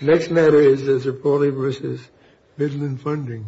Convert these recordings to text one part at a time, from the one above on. Next matter is Zirpoli v. Midland Funding.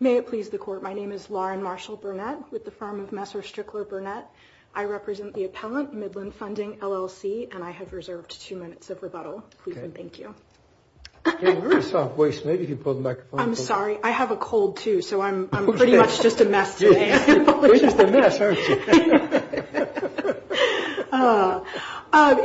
May it please the Court, my name is Mary Zirpoli, and I'm here on behalf of Zirpoli v. Midland Funding. My name is Lauren Marshall Burnett with the firm of Messer Strickler Burnett. I represent the appellant, Midland Funding, LLC, and I have reserved two minutes of rebuttal. Thank you. I'm sorry. I have a cold, too, so I'm pretty much just a mess today. You're just a mess, aren't you?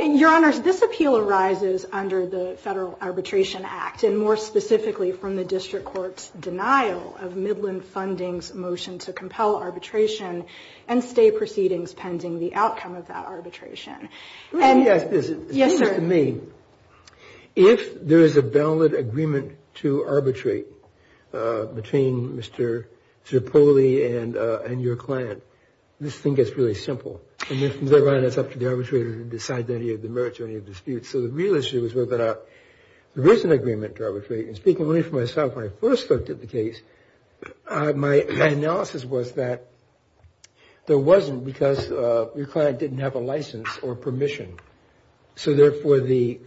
Your Honors, this appeal arises under the Federal Arbitration Act, and more specifically from the district court's denial of Midland Funding's motion to compel arbitration and stay proceedings pending the outcome of that arbitration. And yes, this is to me. If there is a valid agreement to arbitrate between Mr. Zirpoli and your client, this thing gets really simple. And then from there on, it's up to the arbitrator to decide any of the merits or any of the disputes. So the real issue is whether there is an agreement to arbitrate. Speaking only for myself, when I first looked at the case, my analysis was that there wasn't because your client didn't have a license or permission. So therefore, the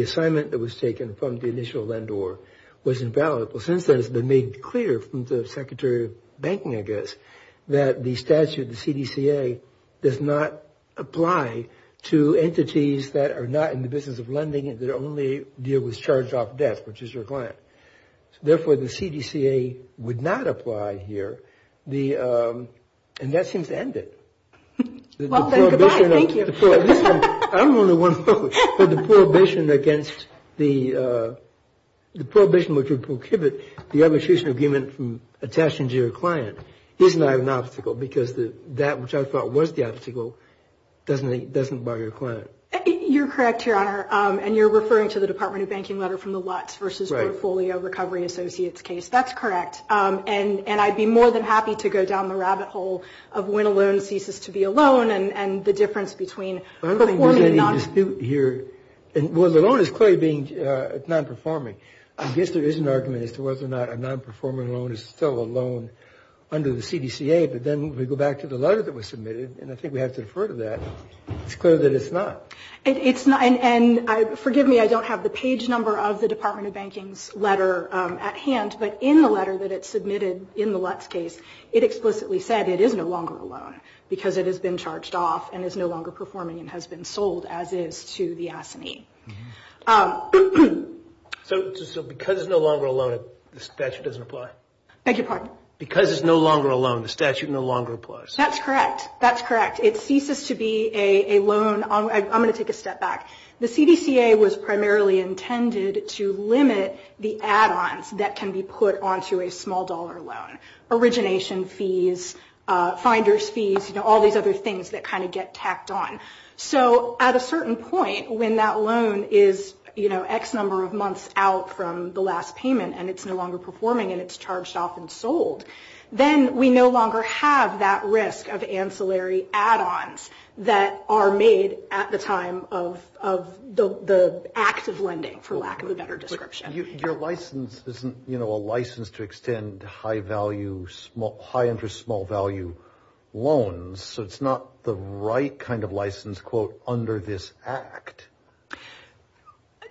assignment that was taken from the initial lender was invalid. Since then, it's been made clear from the Secretary of Banking, I guess, that the statute, the CDCA, does not apply to entities that are not in the business of lending, that only deal with charged-off debts, which is your client. Therefore, the CDCA would not apply here. And that seems to end it. Well, then, goodbye. Thank you. I'm only one vote for the prohibition against the prohibition which would prohibit the arbitration agreement from attaching to your client. Isn't that an obstacle? Because that, which I thought was the obstacle, doesn't bother your client. You're correct, Your Honor. And you're referring to the Department of Banking letter from the Lutz versus Portfolio Recovery Associates case. That's correct. And I'd be more than happy to go down the rabbit hole of when a loan ceases to be a loan and the difference between performing and non-performing. I don't think there's any dispute here. Well, the loan is clearly being non-performing. I guess there is an argument as to whether or not a non-performing loan is still a loan under the CDCA. But then we go back to the letter that was submitted, and I think we have to defer to that. It's clear that it's not. And forgive me, I don't have the page number of the Department of Banking's letter at hand. But in the letter that it submitted in the Lutz case, it explicitly said it is no longer a loan because it has been charged off and is no longer performing and has been sold as is to the S&E. So because it's no longer a loan, the statute doesn't apply? Beg your pardon? Because it's no longer a loan, the statute no longer applies. That's correct. That's correct. It ceases to be a loan. I'm going to take a step back. The CDCA was primarily intended to limit the add-ons that can be put onto a small dollar loan, origination fees, finder's fees, you know, all these other things that kind of get tacked on. So at a certain point when that loan is, you know, X number of months out from the last payment and it's no longer performing and it's charged off and sold, then we no longer have that risk of ancillary add-ons that are made at the time of the act of lending, for lack of a better description. Your license isn't, you know, a license to extend high-value, high-interest, small-value loans. So it's not the right kind of license, quote, under this act.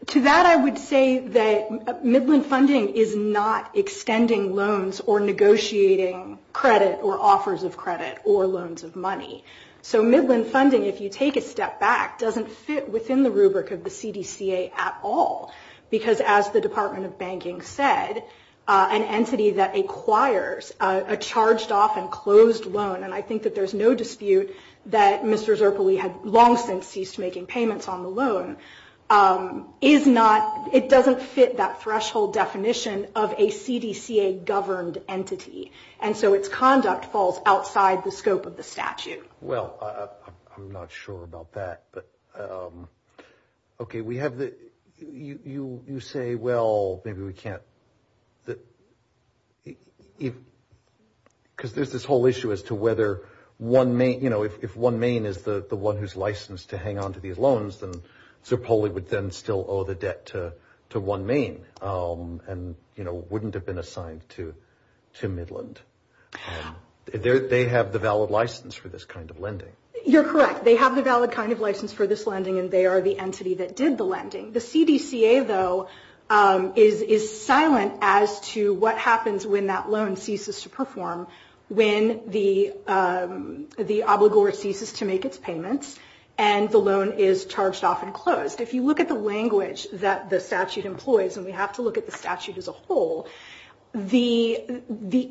To that I would say that Midland Funding is not extending loans or negotiating credit or offers of credit or loans of money. So Midland Funding, if you take a step back, doesn't fit within the rubric of the CDCA at all, because as the Department of Banking said, an entity that acquires a charged off and closed loan, and I think that there's no dispute that Mr. Zerpeli had long since ceased making payments on the loan, is not, it doesn't fit that threshold definition of a CDCA-governed entity. And so its conduct falls outside the scope of the statute. Well, I'm not sure about that. But, okay, we have the, you say, well, maybe we can't, because there's this whole issue as to whether one may, you know, if one main is the one who's licensed to hang on to these loans, then Zerpeli would then still owe the debt to one main and, you know, wouldn't have been assigned to Midland. They have the valid license for this kind of lending. You're correct. They have the valid kind of license for this lending, and they are the entity that did the lending. The CDCA, though, is silent as to what happens when that loan ceases to perform, when the obligor ceases to make its payments and the loan is charged off and closed. If you look at the language that the statute employs, and we have to look at the statute as a whole, the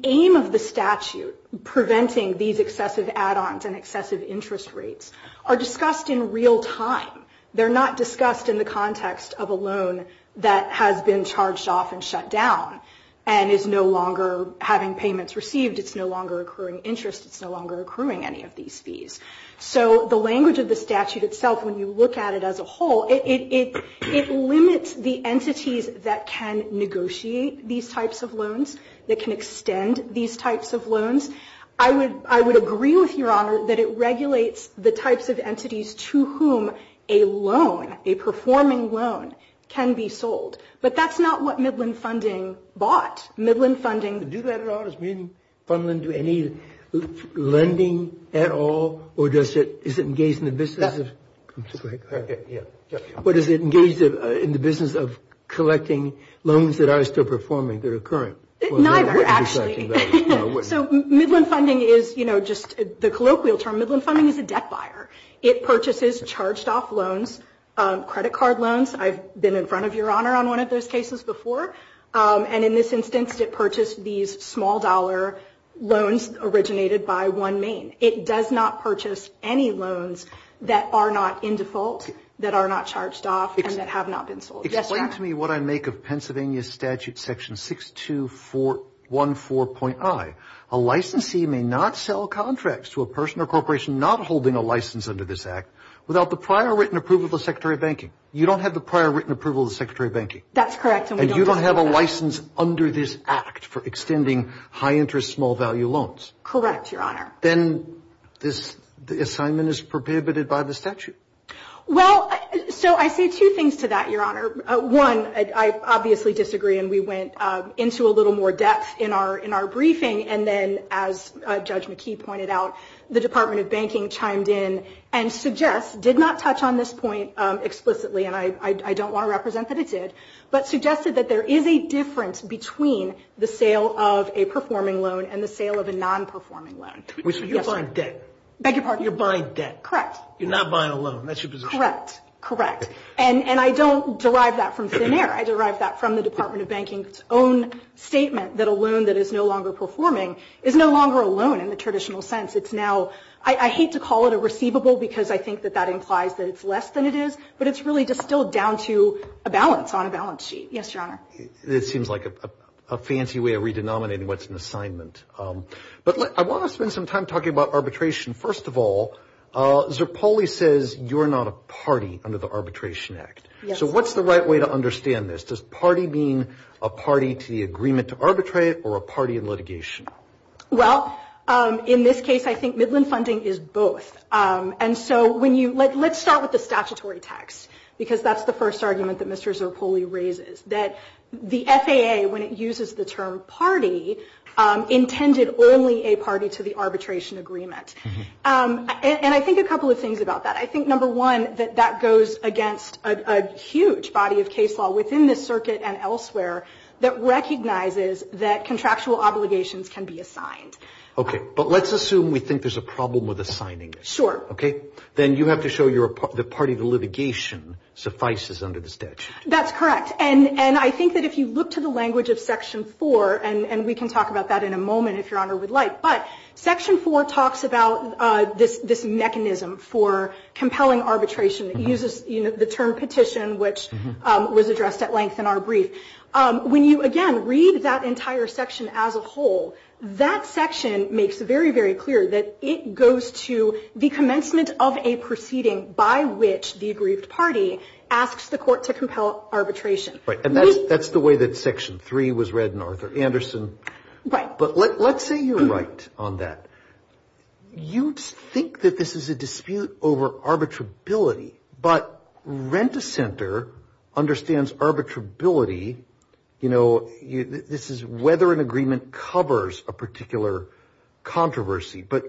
aim of the statute preventing these excessive add-ons and excessive interest rates are discussed in real time. They're not discussed in the context of a loan that has been charged off and shut down and is no longer having payments received. It's no longer accruing interest. It's no longer accruing any of these fees. So the language of the statute itself, when you look at it as a whole, it limits the entities that can negotiate these types of loans, that can extend these types of loans. I would agree with Your Honor that it regulates the types of entities to whom a loan, a performing loan, can be sold. But that's not what Midland Funding bought. Midland Funding... Do that at all? Does Midland Fund do any lending at all? Or is it engaged in the business of collecting loans that are still performing, that are current? No, we're actually... So Midland Funding is, you know, just the colloquial term, Midland Funding is a debt buyer. It purchases charged off loans, credit card loans. I've been in front of Your Honor on one of those cases before. And in this instance, it purchased these small dollar loans originated by one main. It does not purchase any loans that are not in default, that are not charged off, and that have not been sold. Explain to me what I make of Pennsylvania Statute Section 6214.I. A licensee may not sell contracts to a person or corporation not holding a license under this Act without the prior written approval of the Secretary of Banking. You don't have the prior written approval of the Secretary of Banking. That's correct. And you don't have a license under this Act for extending high-interest, small-value loans. Then this assignment is prohibited by the statute. Well, so I say two things to that, Your Honor. One, I obviously disagree, and we went into a little more depth in our briefing. And then, as Judge McKee pointed out, the Department of Banking chimed in and suggests, did not touch on this point explicitly, and I don't want to represent that it did, but suggested that there is a difference between the sale of a performing loan and the sale of a non-performing loan. You're buying debt. Beg your pardon? You're buying debt. Correct. You're not buying a loan. That's your position. Correct. Correct. And I don't derive that from thin air. I derive that from the Department of Banking's own statement that a loan that is no longer performing is no longer a loan in the traditional sense. It's now – I hate to call it a receivable because I think that that implies that it's less than it is, but it's really distilled down to a balance on a balance sheet. Yes, Your Honor. It seems like a fancy way of re-denominating what's an assignment. But I want to spend some time talking about arbitration. First of all, Zerpoli says you're not a party under the Arbitration Act. Yes. So what's the right way to understand this? Does party mean a party to the agreement to arbitrate or a party in litigation? Well, in this case, I think Midland Funding is both. And so when you – let's start with the statutory text because that's the first argument that Mr. Zerpoli raises, that the FAA, when it uses the term party, intended only a party to the arbitration agreement. And I think a couple of things about that. I think, number one, that that goes against a huge body of case law within this circuit and elsewhere that recognizes that contractual obligations can be assigned. Okay. But let's assume we think there's a problem with assigning this. Sure. Okay. Then you have to show the party to litigation suffices under the statute. That's correct. And I think that if you look to the language of Section 4, and we can talk about that in a moment if Your Honor would like, but Section 4 talks about this mechanism for compelling arbitration. It uses the term petition, which was addressed at length in our brief. When you, again, read that entire section as a whole, that section makes very, very clear that it goes to the commencement of a proceeding by which the aggrieved party asks the court to compel arbitration. Right. And that's the way that Section 3 was read in Arthur Anderson. Right. But let's say you're right on that. You think that this is a dispute over arbitrability, but Rent-A-Center understands arbitrability, you know, this is whether an agreement covers a particular controversy. But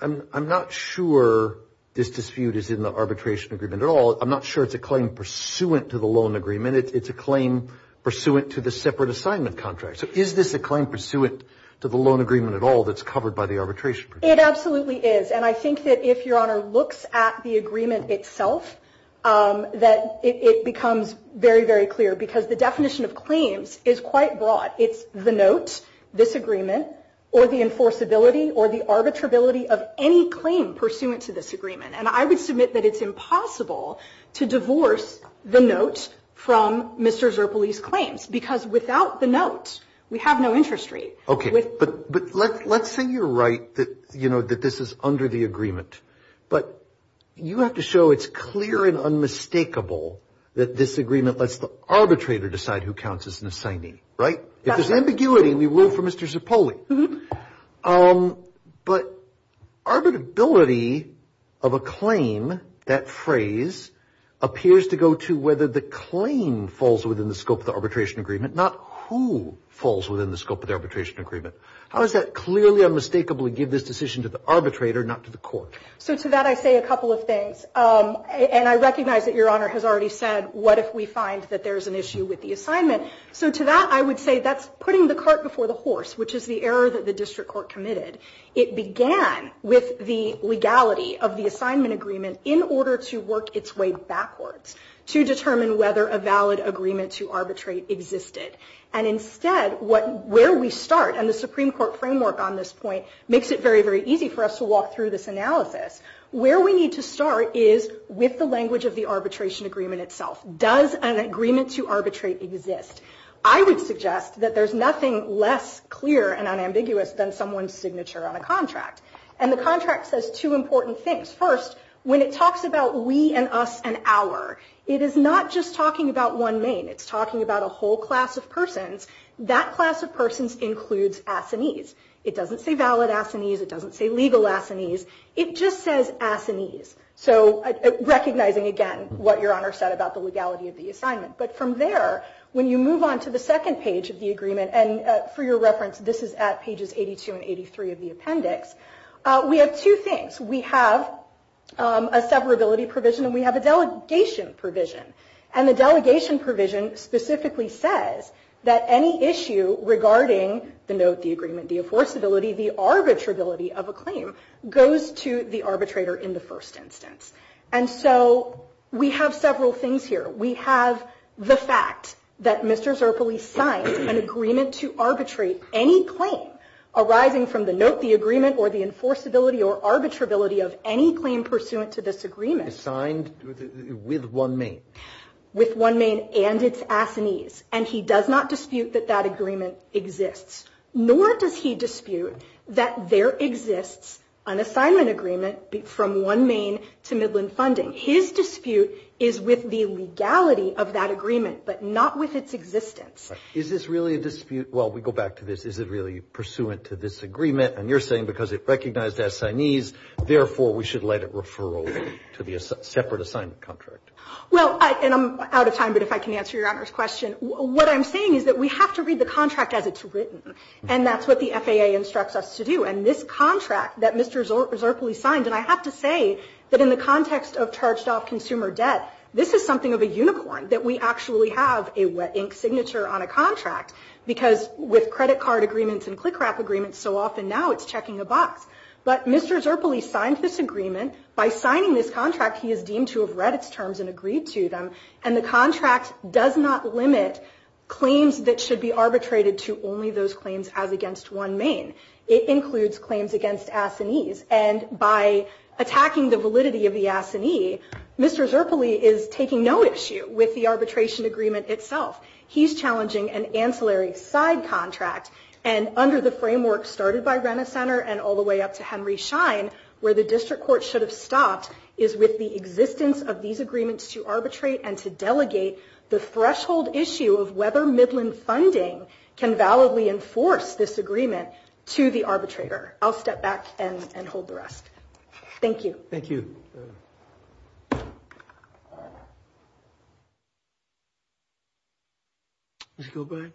I'm not sure this dispute is in the arbitration agreement at all. I'm not sure it's a claim pursuant to the loan agreement. It's a claim pursuant to the separate assignment contract. So is this a claim pursuant to the loan agreement at all that's covered by the arbitration? It absolutely is, and I think that if Your Honor looks at the agreement itself, that it becomes very, very clear because the definition of claims is quite broad. It's the note, this agreement, or the enforceability or the arbitrability of any claim pursuant to this agreement. And I would submit that it's impossible to divorce the note from Mr. Zerpoli's claims because without the note, we have no interest rate. Okay. But let's say you're right that, you know, that this is under the agreement. But you have to show it's clear and unmistakable that this agreement lets the arbitrator decide who counts as an assignee. Right? If there's ambiguity, we root for Mr. Zerpoli. But arbitrability of a claim, that phrase, appears to go to whether the claim falls within the scope of the arbitration agreement, not who falls within the scope of the arbitration agreement. How does that clearly unmistakably give this decision to the arbitrator, not to the court? So to that, I say a couple of things. And I recognize that Your Honor has already said, what if we find that there's an issue with the assignment? So to that, I would say that's putting the cart before the horse, which is the error that the district court committed. It began with the legality of the assignment agreement in order to work its way backwards to determine whether a valid agreement to arbitrate existed. And instead, where we start, and the Supreme Court framework on this point, makes it very, very easy for us to walk through this analysis. Where we need to start is with the language of the arbitration agreement itself. Does an agreement to arbitrate exist? I would suggest that there's nothing less clear and unambiguous than someone's signature on a contract. And the contract says two important things. First, when it talks about we and us and our, it is not just talking about one main. It's talking about a whole class of persons. That class of persons includes assinees. It doesn't say valid assinees. It doesn't say legal assinees. It just says assinees. So recognizing, again, what Your Honor said about the legality of the assignment. But from there, when you move on to the second page of the agreement, and for your reference, this is at pages 82 and 83 of the appendix, we have two things. We have a severability provision, and we have a delegation provision. And the delegation provision specifically says that any issue regarding the note, the agreement, the enforceability, the arbitrability of a claim goes to the arbitrator in the first instance. And so we have several things here. We have the fact that Mr. Zerpily signed an agreement to arbitrate any claim arising from the note, the agreement, or the enforceability or arbitrability of any claim pursuant to this agreement. Assigned with OneMain. With OneMain and its assinees. And he does not dispute that that agreement exists. Nor does he dispute that there exists an assignment agreement from OneMain to Midland Funding. His dispute is with the legality of that agreement, but not with its existence. Is this really a dispute? Well, we go back to this. Is it really pursuant to this agreement? And you're saying because it recognized assignees, therefore, we should let it referral to the separate assignment contract. Well, and I'm out of time, but if I can answer Your Honor's question. What I'm saying is that we have to read the contract as it's written. And that's what the FAA instructs us to do. And this contract that Mr. Zerpily signed, and I have to say that in the context of charged-off consumer debt, this is something of a unicorn, that we actually have a wet ink signature on a contract. Because with credit card agreements and CLCCRAC agreements, so often now it's checking a box. But Mr. Zerpily signed this agreement. By signing this contract, he is deemed to have read its terms and agreed to them. And the contract does not limit claims that should be arbitrated to only those claims as against OneMain. It includes claims against assignees. And by attacking the validity of the assignee, Mr. Zerpily is taking no issue with the arbitration agreement itself. He's challenging an ancillary side contract. And under the framework started by Renner Center and all the way up to Henry Schein, where the district court should have stopped, is with the existence of these agreements to arbitrate and to delegate the threshold issue of whether Midland funding can validly enforce this agreement to the arbitrator. I'll step back and hold the rest. Thank you. Thank you. Ms. Gilbride?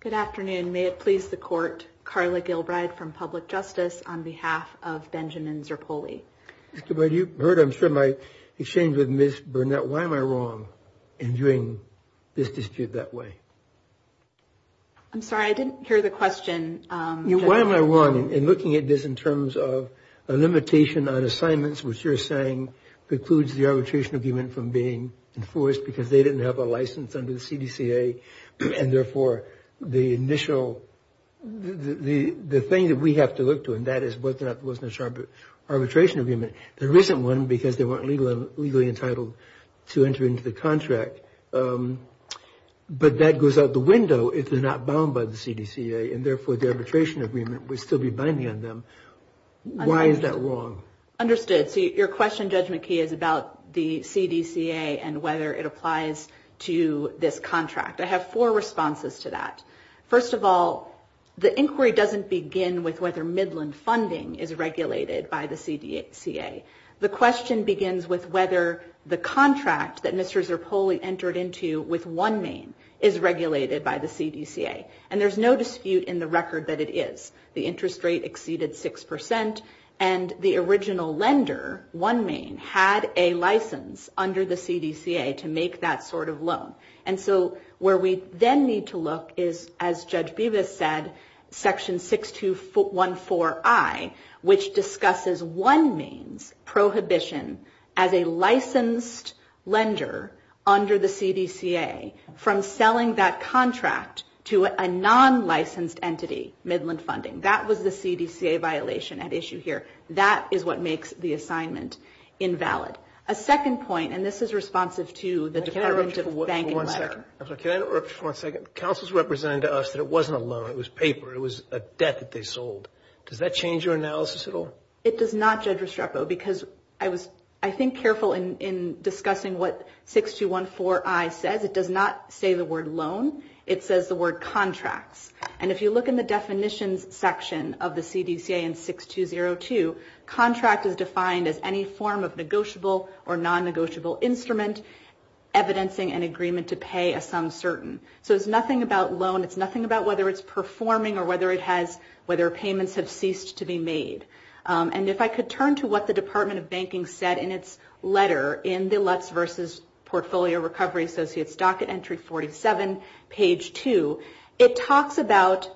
Good afternoon. May it please the court, Carla Gilbride from Public Justice on behalf of Benjamin Zerpily. Ms. Gilbride, you've heard, I'm sure, my exchange with Ms. Burnett. Why am I wrong in doing this dispute that way? I'm sorry, I didn't hear the question. Why am I wrong in looking at this in terms of a limitation on assignments, which you're saying precludes the arbitration agreement from being enforced because they didn't have a license under the CDCA and, therefore, the initial, the thing that we have to look to and that is whether or not there was an arbitration agreement. There isn't one because they weren't legally entitled to enter into the contract. But that goes out the window if they're not bound by the CDCA and, therefore, the arbitration agreement would still be binding on them. Why is that wrong? Understood. So your question, Judge McKee, is about the CDCA and whether it applies to this contract. I have four responses to that. First of all, the inquiry doesn't begin with whether Midland funding is regulated by the CDCA. The question begins with whether the contract that Mr. Zerpily entered into with one name is regulated by the CDCA. And there's no dispute in the record that it is. The interest rate exceeded 6% and the original lender, one name, had a license under the CDCA to make that sort of loan. And so where we then need to look is, as Judge Bevis said, Section 6214I, which discusses one name's prohibition as a licensed lender under the CDCA from selling that contract to a non-licensed entity, Midland Funding. That was the CDCA violation at issue here. That is what makes the assignment invalid. A second point, and this is responsive to the Department of Banking letter. Can I interrupt you for one second? Counsel is representing to us that it wasn't a loan, it was paper, it was a debt that they sold. Does that change your analysis at all? It does not, Judge Restrepo, because I was, I think, careful in discussing what 6214I says. It does not say the word loan. It says the word contracts. And if you look in the definitions section of the CDCA in 6202, contract is defined as any form of negotiable or non-negotiable instrument, evidencing an agreement to pay a sum certain. So it's nothing about loan. It's nothing about whether it's performing or whether it has, whether payments have ceased to be made. And if I could turn to what the Department of Banking said in its letter, in the LUTs versus Portfolio Recovery Associates Docket Entry 47, page 2, it talks about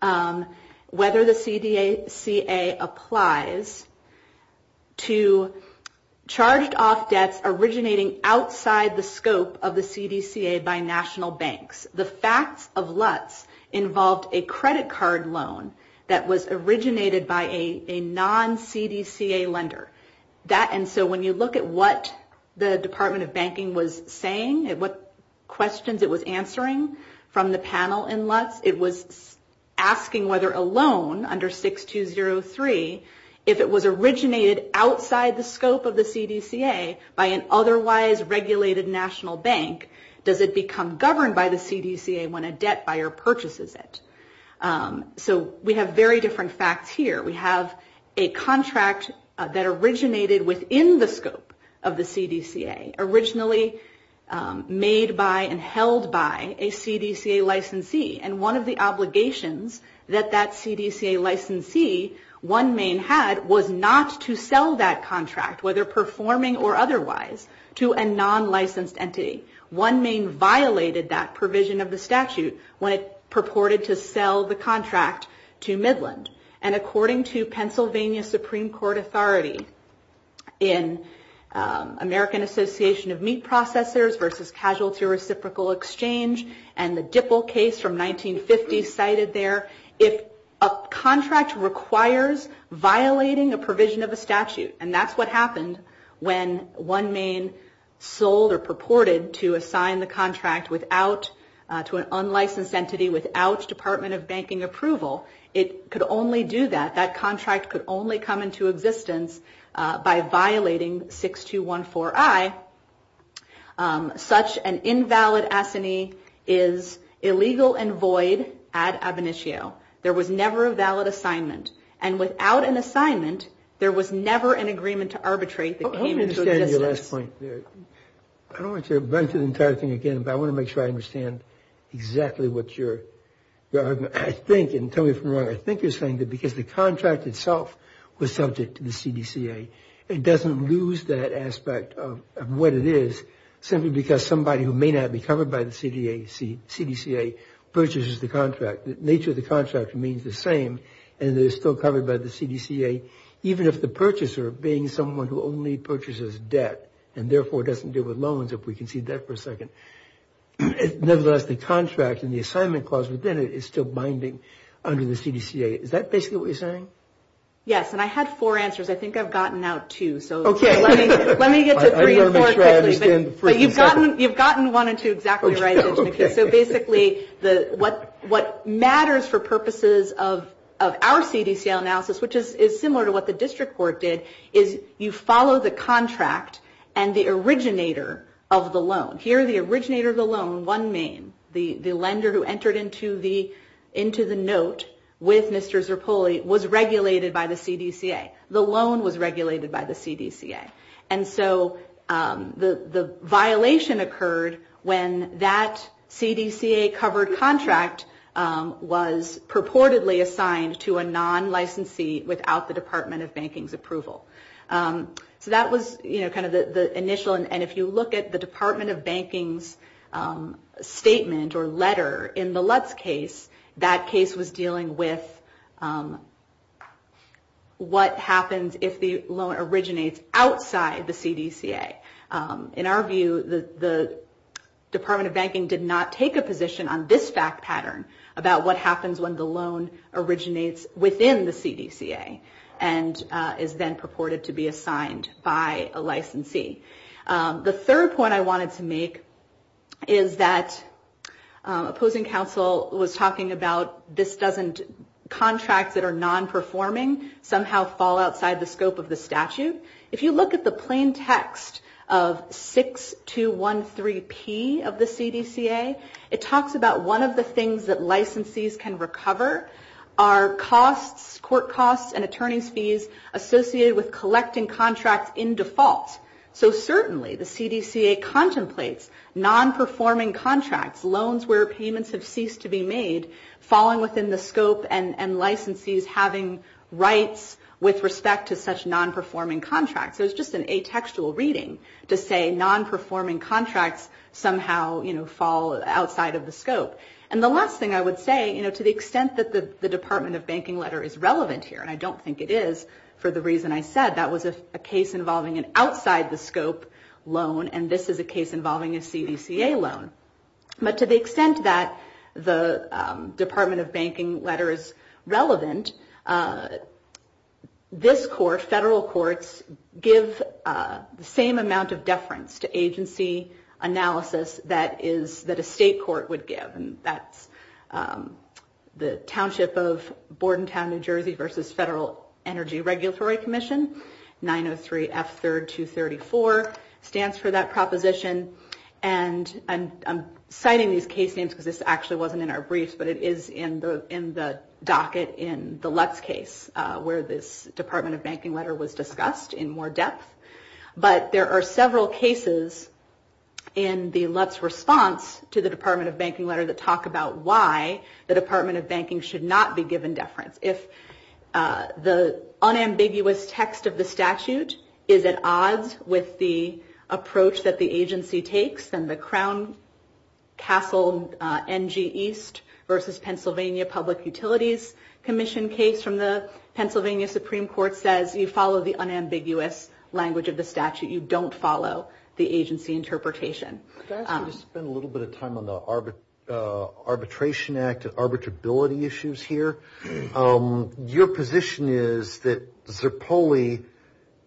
whether the CDCA applies to charged-off debts originating outside the scope of the CDCA by national banks. The facts of LUTs involved a credit card loan that was originated by a non-CDCA lender. And so when you look at what the Department of Banking was saying, what questions it was answering from the panel in LUTs, it was asking whether a loan under 6203, if it was originated outside the scope of the CDCA by an otherwise regulated national bank, does it become governed by the CDCA when a debt buyer purchases it? So we have very different facts here. We have a contract that originated within the scope of the CDCA, originally made by and held by a CDCA licensee. And one of the obligations that that CDCA licensee, one main had, was not to sell that contract, whether performing or otherwise, to a non-licensed entity. One main violated that provision of the statute when it purported to sell the contract to Midland. And according to Pennsylvania Supreme Court authority in American Association of Meat Processors versus Casualty Reciprocal Exchange and the Dipple case from 1950 cited there, if a contract requires violating a provision of a statute, and that's what happened when one main sold or purported to assign the contract without, to an unlicensed entity without Department of Banking approval, it could only do that, that contract could only come into existence by violating 6214I, such an invalid assignee is illegal and void ad ab initio. There was never a valid assignment. And without an assignment, there was never an agreement to arbitrate that came into existence. I don't understand your last point there. I don't want you to run through the entire thing again, but I want to make sure I understand exactly what you're arguing. I think, and tell me if I'm wrong, I think you're saying that because the contract itself was subject to the CDCA, it doesn't lose that aspect of what it is simply because somebody who may not be covered by the CDCA purchases the contract. The nature of the contract remains the same, and it is still covered by the CDCA, even if the purchaser being someone who only purchases debt and therefore doesn't deal with loans, if we can see that for a second. Nevertheless, the contract and the assignment clause within it is still binding under the CDCA. Is that basically what you're saying? Yes, and I had four answers. I think I've gotten out two. Okay. Let me get to three or four quickly. I want to make sure I understand the first and second. You've gotten one and two exactly right. Okay. So basically, what matters for purposes of our CDCA analysis, which is similar to what the district court did, is you follow the contract and the originator of the loan. Here, the originator of the loan, one main, the lender who entered into the note with Mr. Zerpulli, was regulated by the CDCA. The loan was regulated by the CDCA. And so the violation occurred when that CDCA-covered contract was purportedly assigned to a non-licensee without the Department of Banking's approval. So that was kind of the initial. And if you look at the Department of Banking's statement or letter in the Lutz case, that case was dealing with what happens if the loan originates outside the CDCA. In our view, the Department of Banking did not take a position on this fact pattern about what happens when the loan originates within the CDCA and is then purported to be assigned by a licensee. The third point I wanted to make is that opposing counsel was talking about contracts that are non-performing somehow fall outside the scope of the statute. If you look at the plain text of 6213P of the CDCA, it talks about one of the things that licensees can recover are court costs and attorney's fees associated with collecting contracts in default. So certainly the CDCA contemplates non-performing contracts, loans where payments have ceased to be made, falling within the scope and licensees having rights with respect to such non-performing contracts. So it's just an atextual reading to say non-performing contracts somehow fall outside of the scope. And the last thing I would say, to the extent that the Department of Banking letter is relevant here, and I don't think it is for the reason I said, that was a case involving an outside the scope loan, and this is a case involving a CDCA loan. But to the extent that the Department of Banking letter is relevant, this court, federal courts, give the same amount of deference to agency analysis that a state court would give. And that's the Township of Bordentown, New Jersey, versus Federal Energy Regulatory Commission, 903F3234, stands for that proposition. And I'm citing these case names because this actually wasn't in our briefs, but it is in the docket in the Lutz case, where this Department of Banking letter was discussed in more depth. But there are several cases in the Lutz response to the Department of Banking letter that talk about why the Department of Banking should not be given deference. If the unambiguous text of the statute is at odds with the approach that the agency takes, then the Crown Castle NG East versus Pennsylvania Public Utilities Commission case from the Pennsylvania Supreme Court says, you follow the unambiguous language of the statute. You don't follow the agency interpretation. Could I ask you to spend a little bit of time on the Arbitration Act and arbitrability issues here? Your position is that Zerpoli,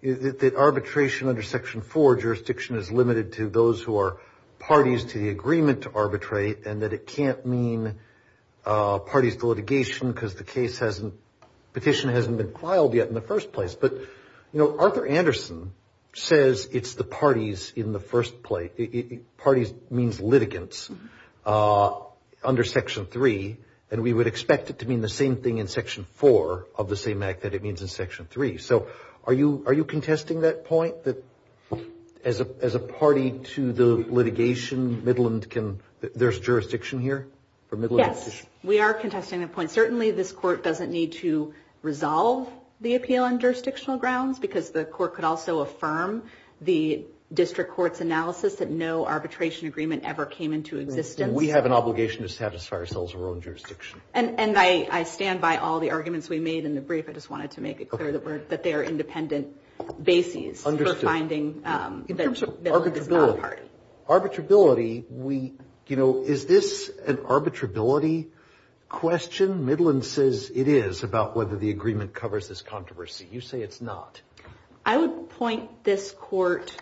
that arbitration under Section 4, jurisdiction is limited to those who are parties to the agreement to arbitrate, and that it can't mean parties to litigation because the case hasn't, petition hasn't been filed yet in the first place. But, you know, Arthur Anderson says it's the parties in the first place. Parties means litigants under Section 3, and we would expect it to mean the same thing in Section 4 of the same act that it means in Section 3. So are you contesting that point, that as a party to the litigation, Midland can, there's jurisdiction here? Yes, we are contesting that point. Certainly this Court doesn't need to resolve the appeal on jurisdictional grounds because the Court could also affirm the district court's analysis that no arbitration agreement ever came into existence. We have an obligation to satisfy ourselves in our own jurisdiction. And I stand by all the arguments we made in the brief. I just wanted to make it clear that they are independent bases for finding that Midland is not a party. Arbitrability, we, you know, is this an arbitrability question? Midland says it is about whether the agreement covers this controversy. You say it's not. I would point this Court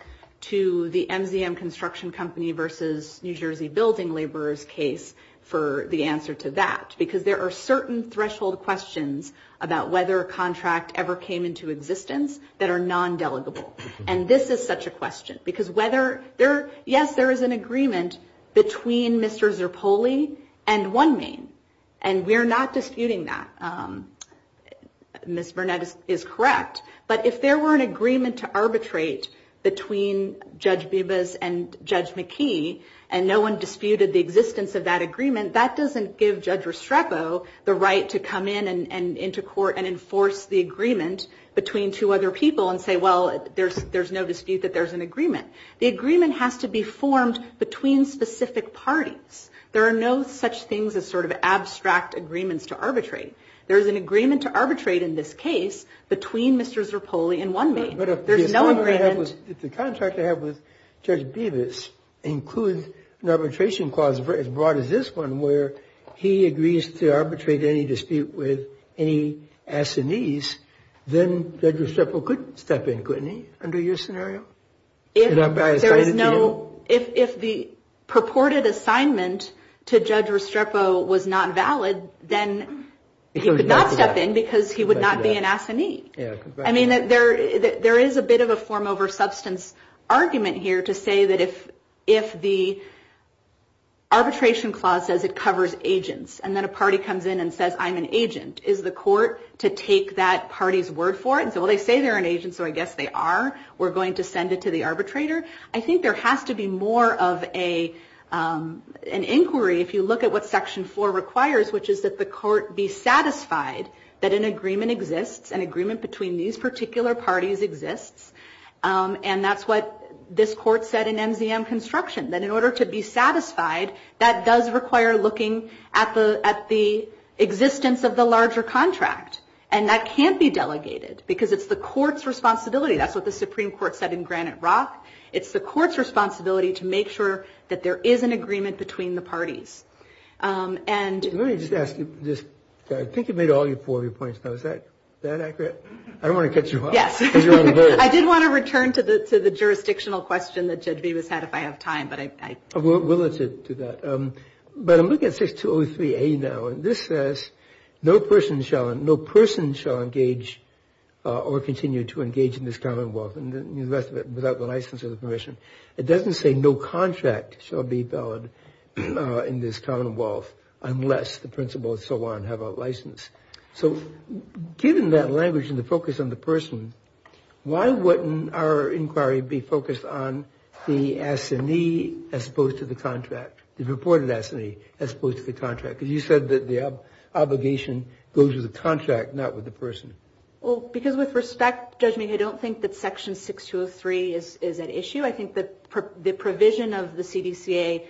to the MZM Construction Company versus New Jersey Building Laborers case for the answer to that because there are certain threshold questions about whether a contract ever came into existence that are non-delegable. And this is such a question because whether there, yes, there is an agreement between Mr. Zerpoli and OneMain, and we're not disputing that. Ms. Burnett is correct. But if there were an agreement to arbitrate between Judge Bibas and Judge McKee and no one disputed the existence of that agreement, that doesn't give Judge Restrepo the right to come in and into court and enforce the agreement between two other people and say, well, there's no dispute that there's an agreement. The agreement has to be formed between specific parties. There are no such things as sort of abstract agreements to arbitrate. There is an agreement to arbitrate in this case between Mr. Zerpoli and OneMain. There's no agreement. But if the contract I have with Judge Bibas includes an arbitration clause as broad as this one where he agrees to arbitrate any dispute with any assinees, then Judge Restrepo could step in, couldn't he, under your scenario? If there is no, if the purported assignment to Judge Restrepo was not valid, then he could not step in because he would not be an assinee. I mean, there is a bit of a form over substance argument here to say that if the arbitration clause says it covers agents and then a party comes in and says, I'm an agent, is the court to take that party's word for it? And so, well, they say they're an agent, so I guess they are. We're going to send it to the arbitrator. I think there has to be more of an inquiry if you look at what Section 4 requires, which is that the court be satisfied that an agreement exists, an agreement between these particular parties exists. And that's what this court said in MZM Construction, that in order to be satisfied, that does require looking at the existence of the larger contract. And that can't be delegated because it's the court's responsibility. That's what the Supreme Court said in Granite Rock. It's the court's responsibility to make sure that there is an agreement between the parties. And- Let me just ask you this. I think you've made all four of your points now. Is that accurate? I don't want to cut you off. Yes. I did want to return to the jurisdictional question that Judge Bevis had if I have time, but I- We'll let you do that. But I'm looking at 6203A now. And this says, no person shall engage or continue to engage in this commonwealth, and the rest of it, without the license or the permission. It doesn't say no contract shall be valid in this commonwealth unless the principal and so on have a license. So given that language and the focus on the person, why wouldn't our inquiry be focused on the assignee as opposed to the contract, the reported assignee as opposed to the contract? Because you said that the obligation goes with the contract, not with the person. Well, because with respect, Judge Mead, I don't think that Section 6203 is at issue. I think the provision of the CDCA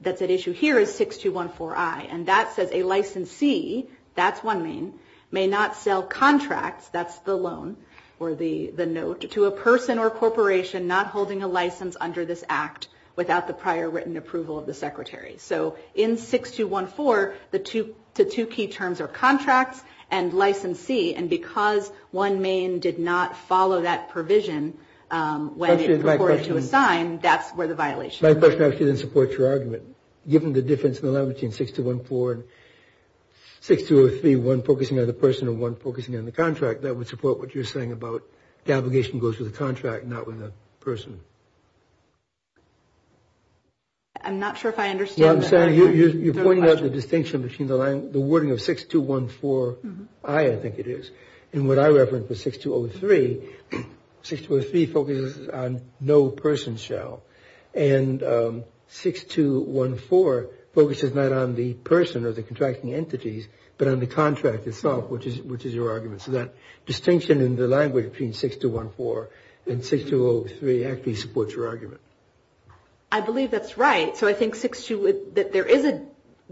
that's at issue here is 6214I. And that says a licensee, that's one main, may not sell contracts, that's the loan or the note, to a person or corporation not holding a license under this act without the prior written approval of the secretary. So in 6214, the two key terms are contracts and licensee. And because one main did not follow that provision when it was reported to assign, that's where the violation is. My question actually doesn't support your argument. Given the difference in the language in 6203, one focusing on the person and one focusing on the contract, that would support what you're saying about the obligation goes with the contract, not with the person. I'm not sure if I understand. You're pointing out the distinction between the wording of 6214I, I think it is, and what I refer to as 6203. 6203 focuses on no person shall. And 6214 focuses not on the person or the contracting entities, but on the contract itself, which is your argument. So that distinction in the language between 6214 and 6203 actually supports your argument. I believe that's right. So I think there is a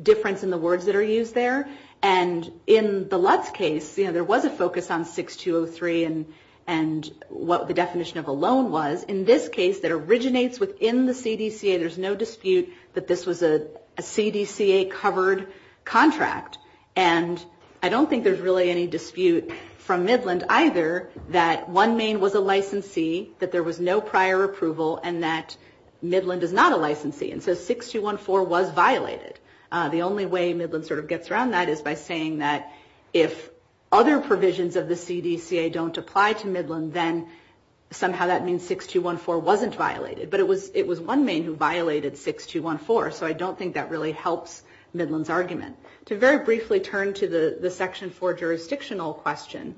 difference in the words that are used there. And in the Lutz case, there was a focus on 6203 and what the definition of a loan was. In this case, that originates within the CDCA. There's no dispute that this was a CDCA-covered contract. And I don't think there's really any dispute from Midland either that one Maine was a licensee, that there was no prior approval, and that Midland is not a licensee. And so 6214 was violated. The only way Midland sort of gets around that is by saying that if other provisions of the CDCA don't apply to Midland, then somehow that means 6214 wasn't violated. But it was one Maine who violated 6214. So I don't think that really helps Midland's argument. To very briefly turn to the Section 4 jurisdictional question,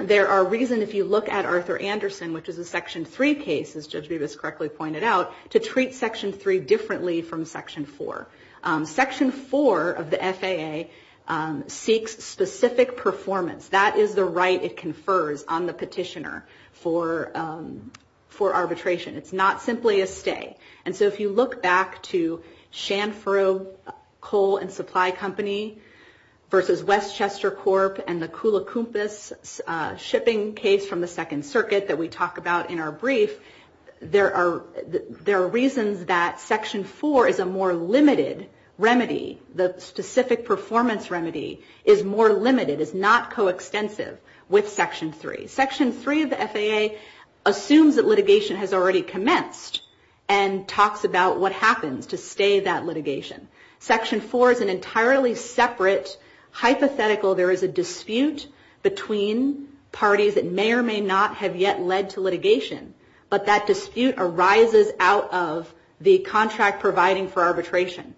there are reasons, if you look at Arthur Anderson, which is a Section 3 case, as Judge Bevis correctly pointed out, to treat Section 3 differently from Section 4. Section 4 of the FAA seeks specific performance. That is the right it confers on the petitioner for arbitration. It's not simply a stay. And so if you look back to Chanfro Coal and Supply Company versus Westchester Corp and the Kula Kumpis shipping case from the Second Circuit that we talk about in our brief, there are reasons that Section 4 is a more limited remedy. The specific performance remedy is more limited, is not coextensive with Section 3. Section 3 of the FAA assumes that litigation has already commenced. And talks about what happens to stay that litigation. Section 4 is an entirely separate hypothetical. There is a dispute between parties that may or may not have yet led to litigation. But that dispute arises out of the contract providing for arbitration.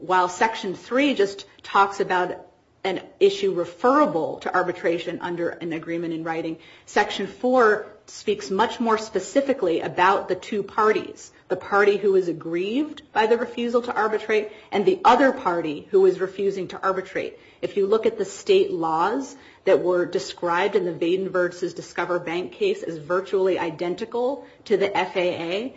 While Section 3 just talks about an issue referable to arbitration under an agreement in writing, Section 4 speaks much more specifically about the two parties. The party who is aggrieved by the refusal to arbitrate, and the other party who is refusing to arbitrate. If you look at the state laws that were described in the Vaden versus Discover Bank case as virtually identical to the FAA,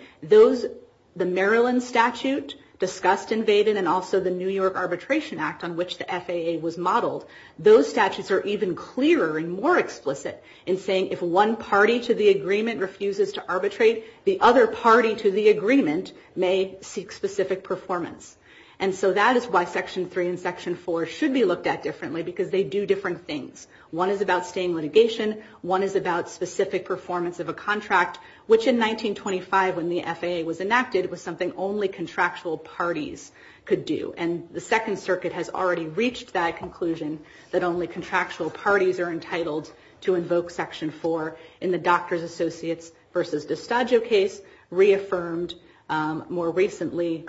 the Maryland statute discussed in Vaden, and also the New York Arbitration Act on which the FAA was modeled, those statutes are even clearer and more explicit in saying if one party to the agreement refuses to arbitrate, the other party to the agreement may seek specific performance. And so that is why Section 3 and Section 4 should be looked at differently because they do different things. One is about staying litigation. One is about specific performance of a contract, which in 1925 when the FAA was enacted was something only contractual parties could do. And the Second Circuit has already reached that conclusion that only contractual parties are entitled to invoke Section 4 in the Doctors Associates versus D'Estagio case, reaffirmed more recently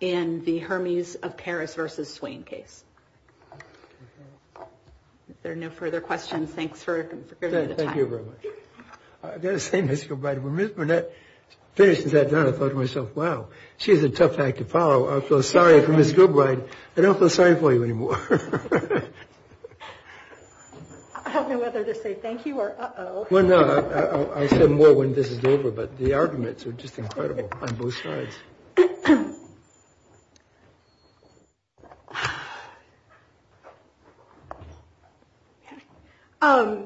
in the Hermes of Paris versus Swain case. If there are no further questions, thanks for giving me the time. Thank you very much. I've got to say, Mr. O'Brien, when Ms. Burnett finished that, I thought to myself, wow, she's a tough act to follow. I feel sorry for Ms. Gilbride. I don't feel sorry for you anymore. I have no other to say thank you or uh-oh. Well, no, I'll say more when this is over, but the arguments are just incredible on both sides. A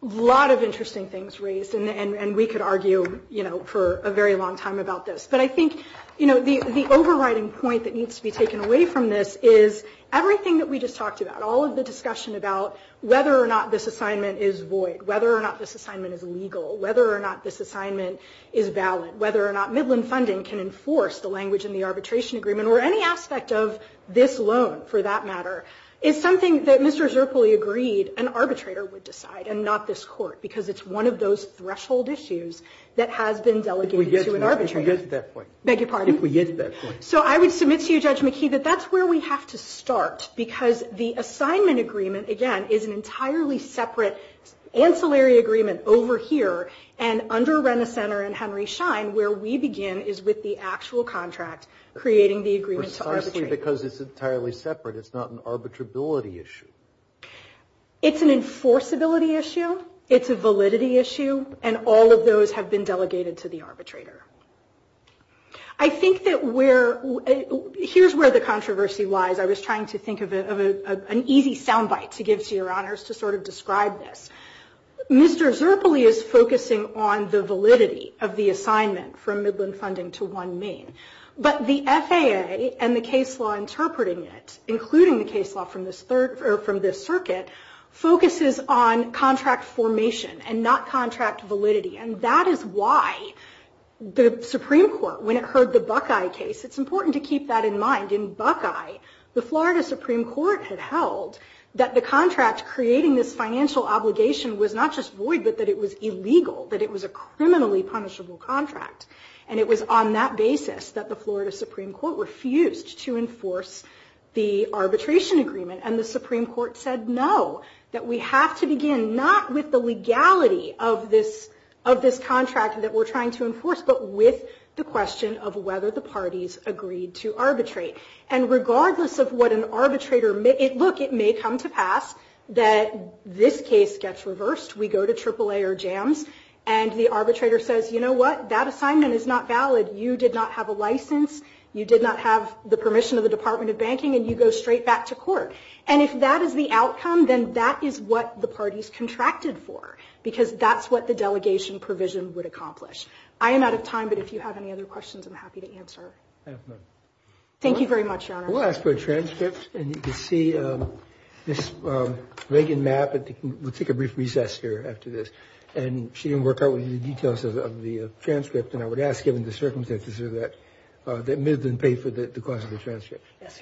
lot of interesting things raised, and we could argue for a very long time about this. But I think the overriding point that needs to be taken away from this is everything that we just talked about, all of the discussion about whether or not this assignment is void, whether or not this assignment is legal, whether or not this assignment is valid, whether or not Midland Funding can enforce the language in the arbitration agreement, or any aspect of this loan, for that matter, is something that Mr. Zerpli agreed an arbitrator would decide and not this Court because it's one of those threshold issues that has been delegated to an arbitrator. If we get to that point. Beg your pardon? If we get to that point. So I would submit to you, Judge McKee, that that's where we have to start because the assignment agreement, again, is an entirely separate ancillary agreement over here and under Rena Center and Henry Schein, where we begin is with the actual contract creating the agreement to arbitrate. Precisely because it's entirely separate. It's not an arbitrability issue. It's an enforceability issue. It's a validity issue. And all of those have been delegated to the arbitrator. I think that here's where the controversy lies. I was trying to think of an easy sound bite to give to your honors to sort of describe this. Mr. Zerpli is focusing on the validity of the assignment from Midland Funding to one main. But the FAA and the case law interpreting it, including the case law from this circuit, focuses on contract formation and not contract validity. And that is why the Supreme Court, when it heard the Buckeye case, it's important to keep that in mind. In Buckeye, the Florida Supreme Court had held that the contract creating this financial obligation was not just void but that it was illegal, that it was a criminally punishable contract. And it was on that basis that the Florida Supreme Court refused to enforce the arbitration agreement. And the Supreme Court said no, that we have to begin not with the legality of this contract that we're trying to enforce but with the question of whether the parties agreed to arbitrate. And regardless of what an arbitrator may... Look, it may come to pass that this case gets reversed. We go to AAA or JAMS and the arbitrator says, you know what, that assignment is not valid. You did not have a license. You did not have the permission of the Department of Banking. And you go straight back to court. And if that is the outcome, then that is what the parties contracted for because that's what the delegation provision would accomplish. I am out of time, but if you have any other questions, I'm happy to answer. Thank you very much, Your Honor. We'll ask for a transcript. And you can see this Reagan map. We'll take a brief recess here after this. And she didn't work out the details of the transcript. that Ms. didn't pay for the cost of the transcript. Thank you.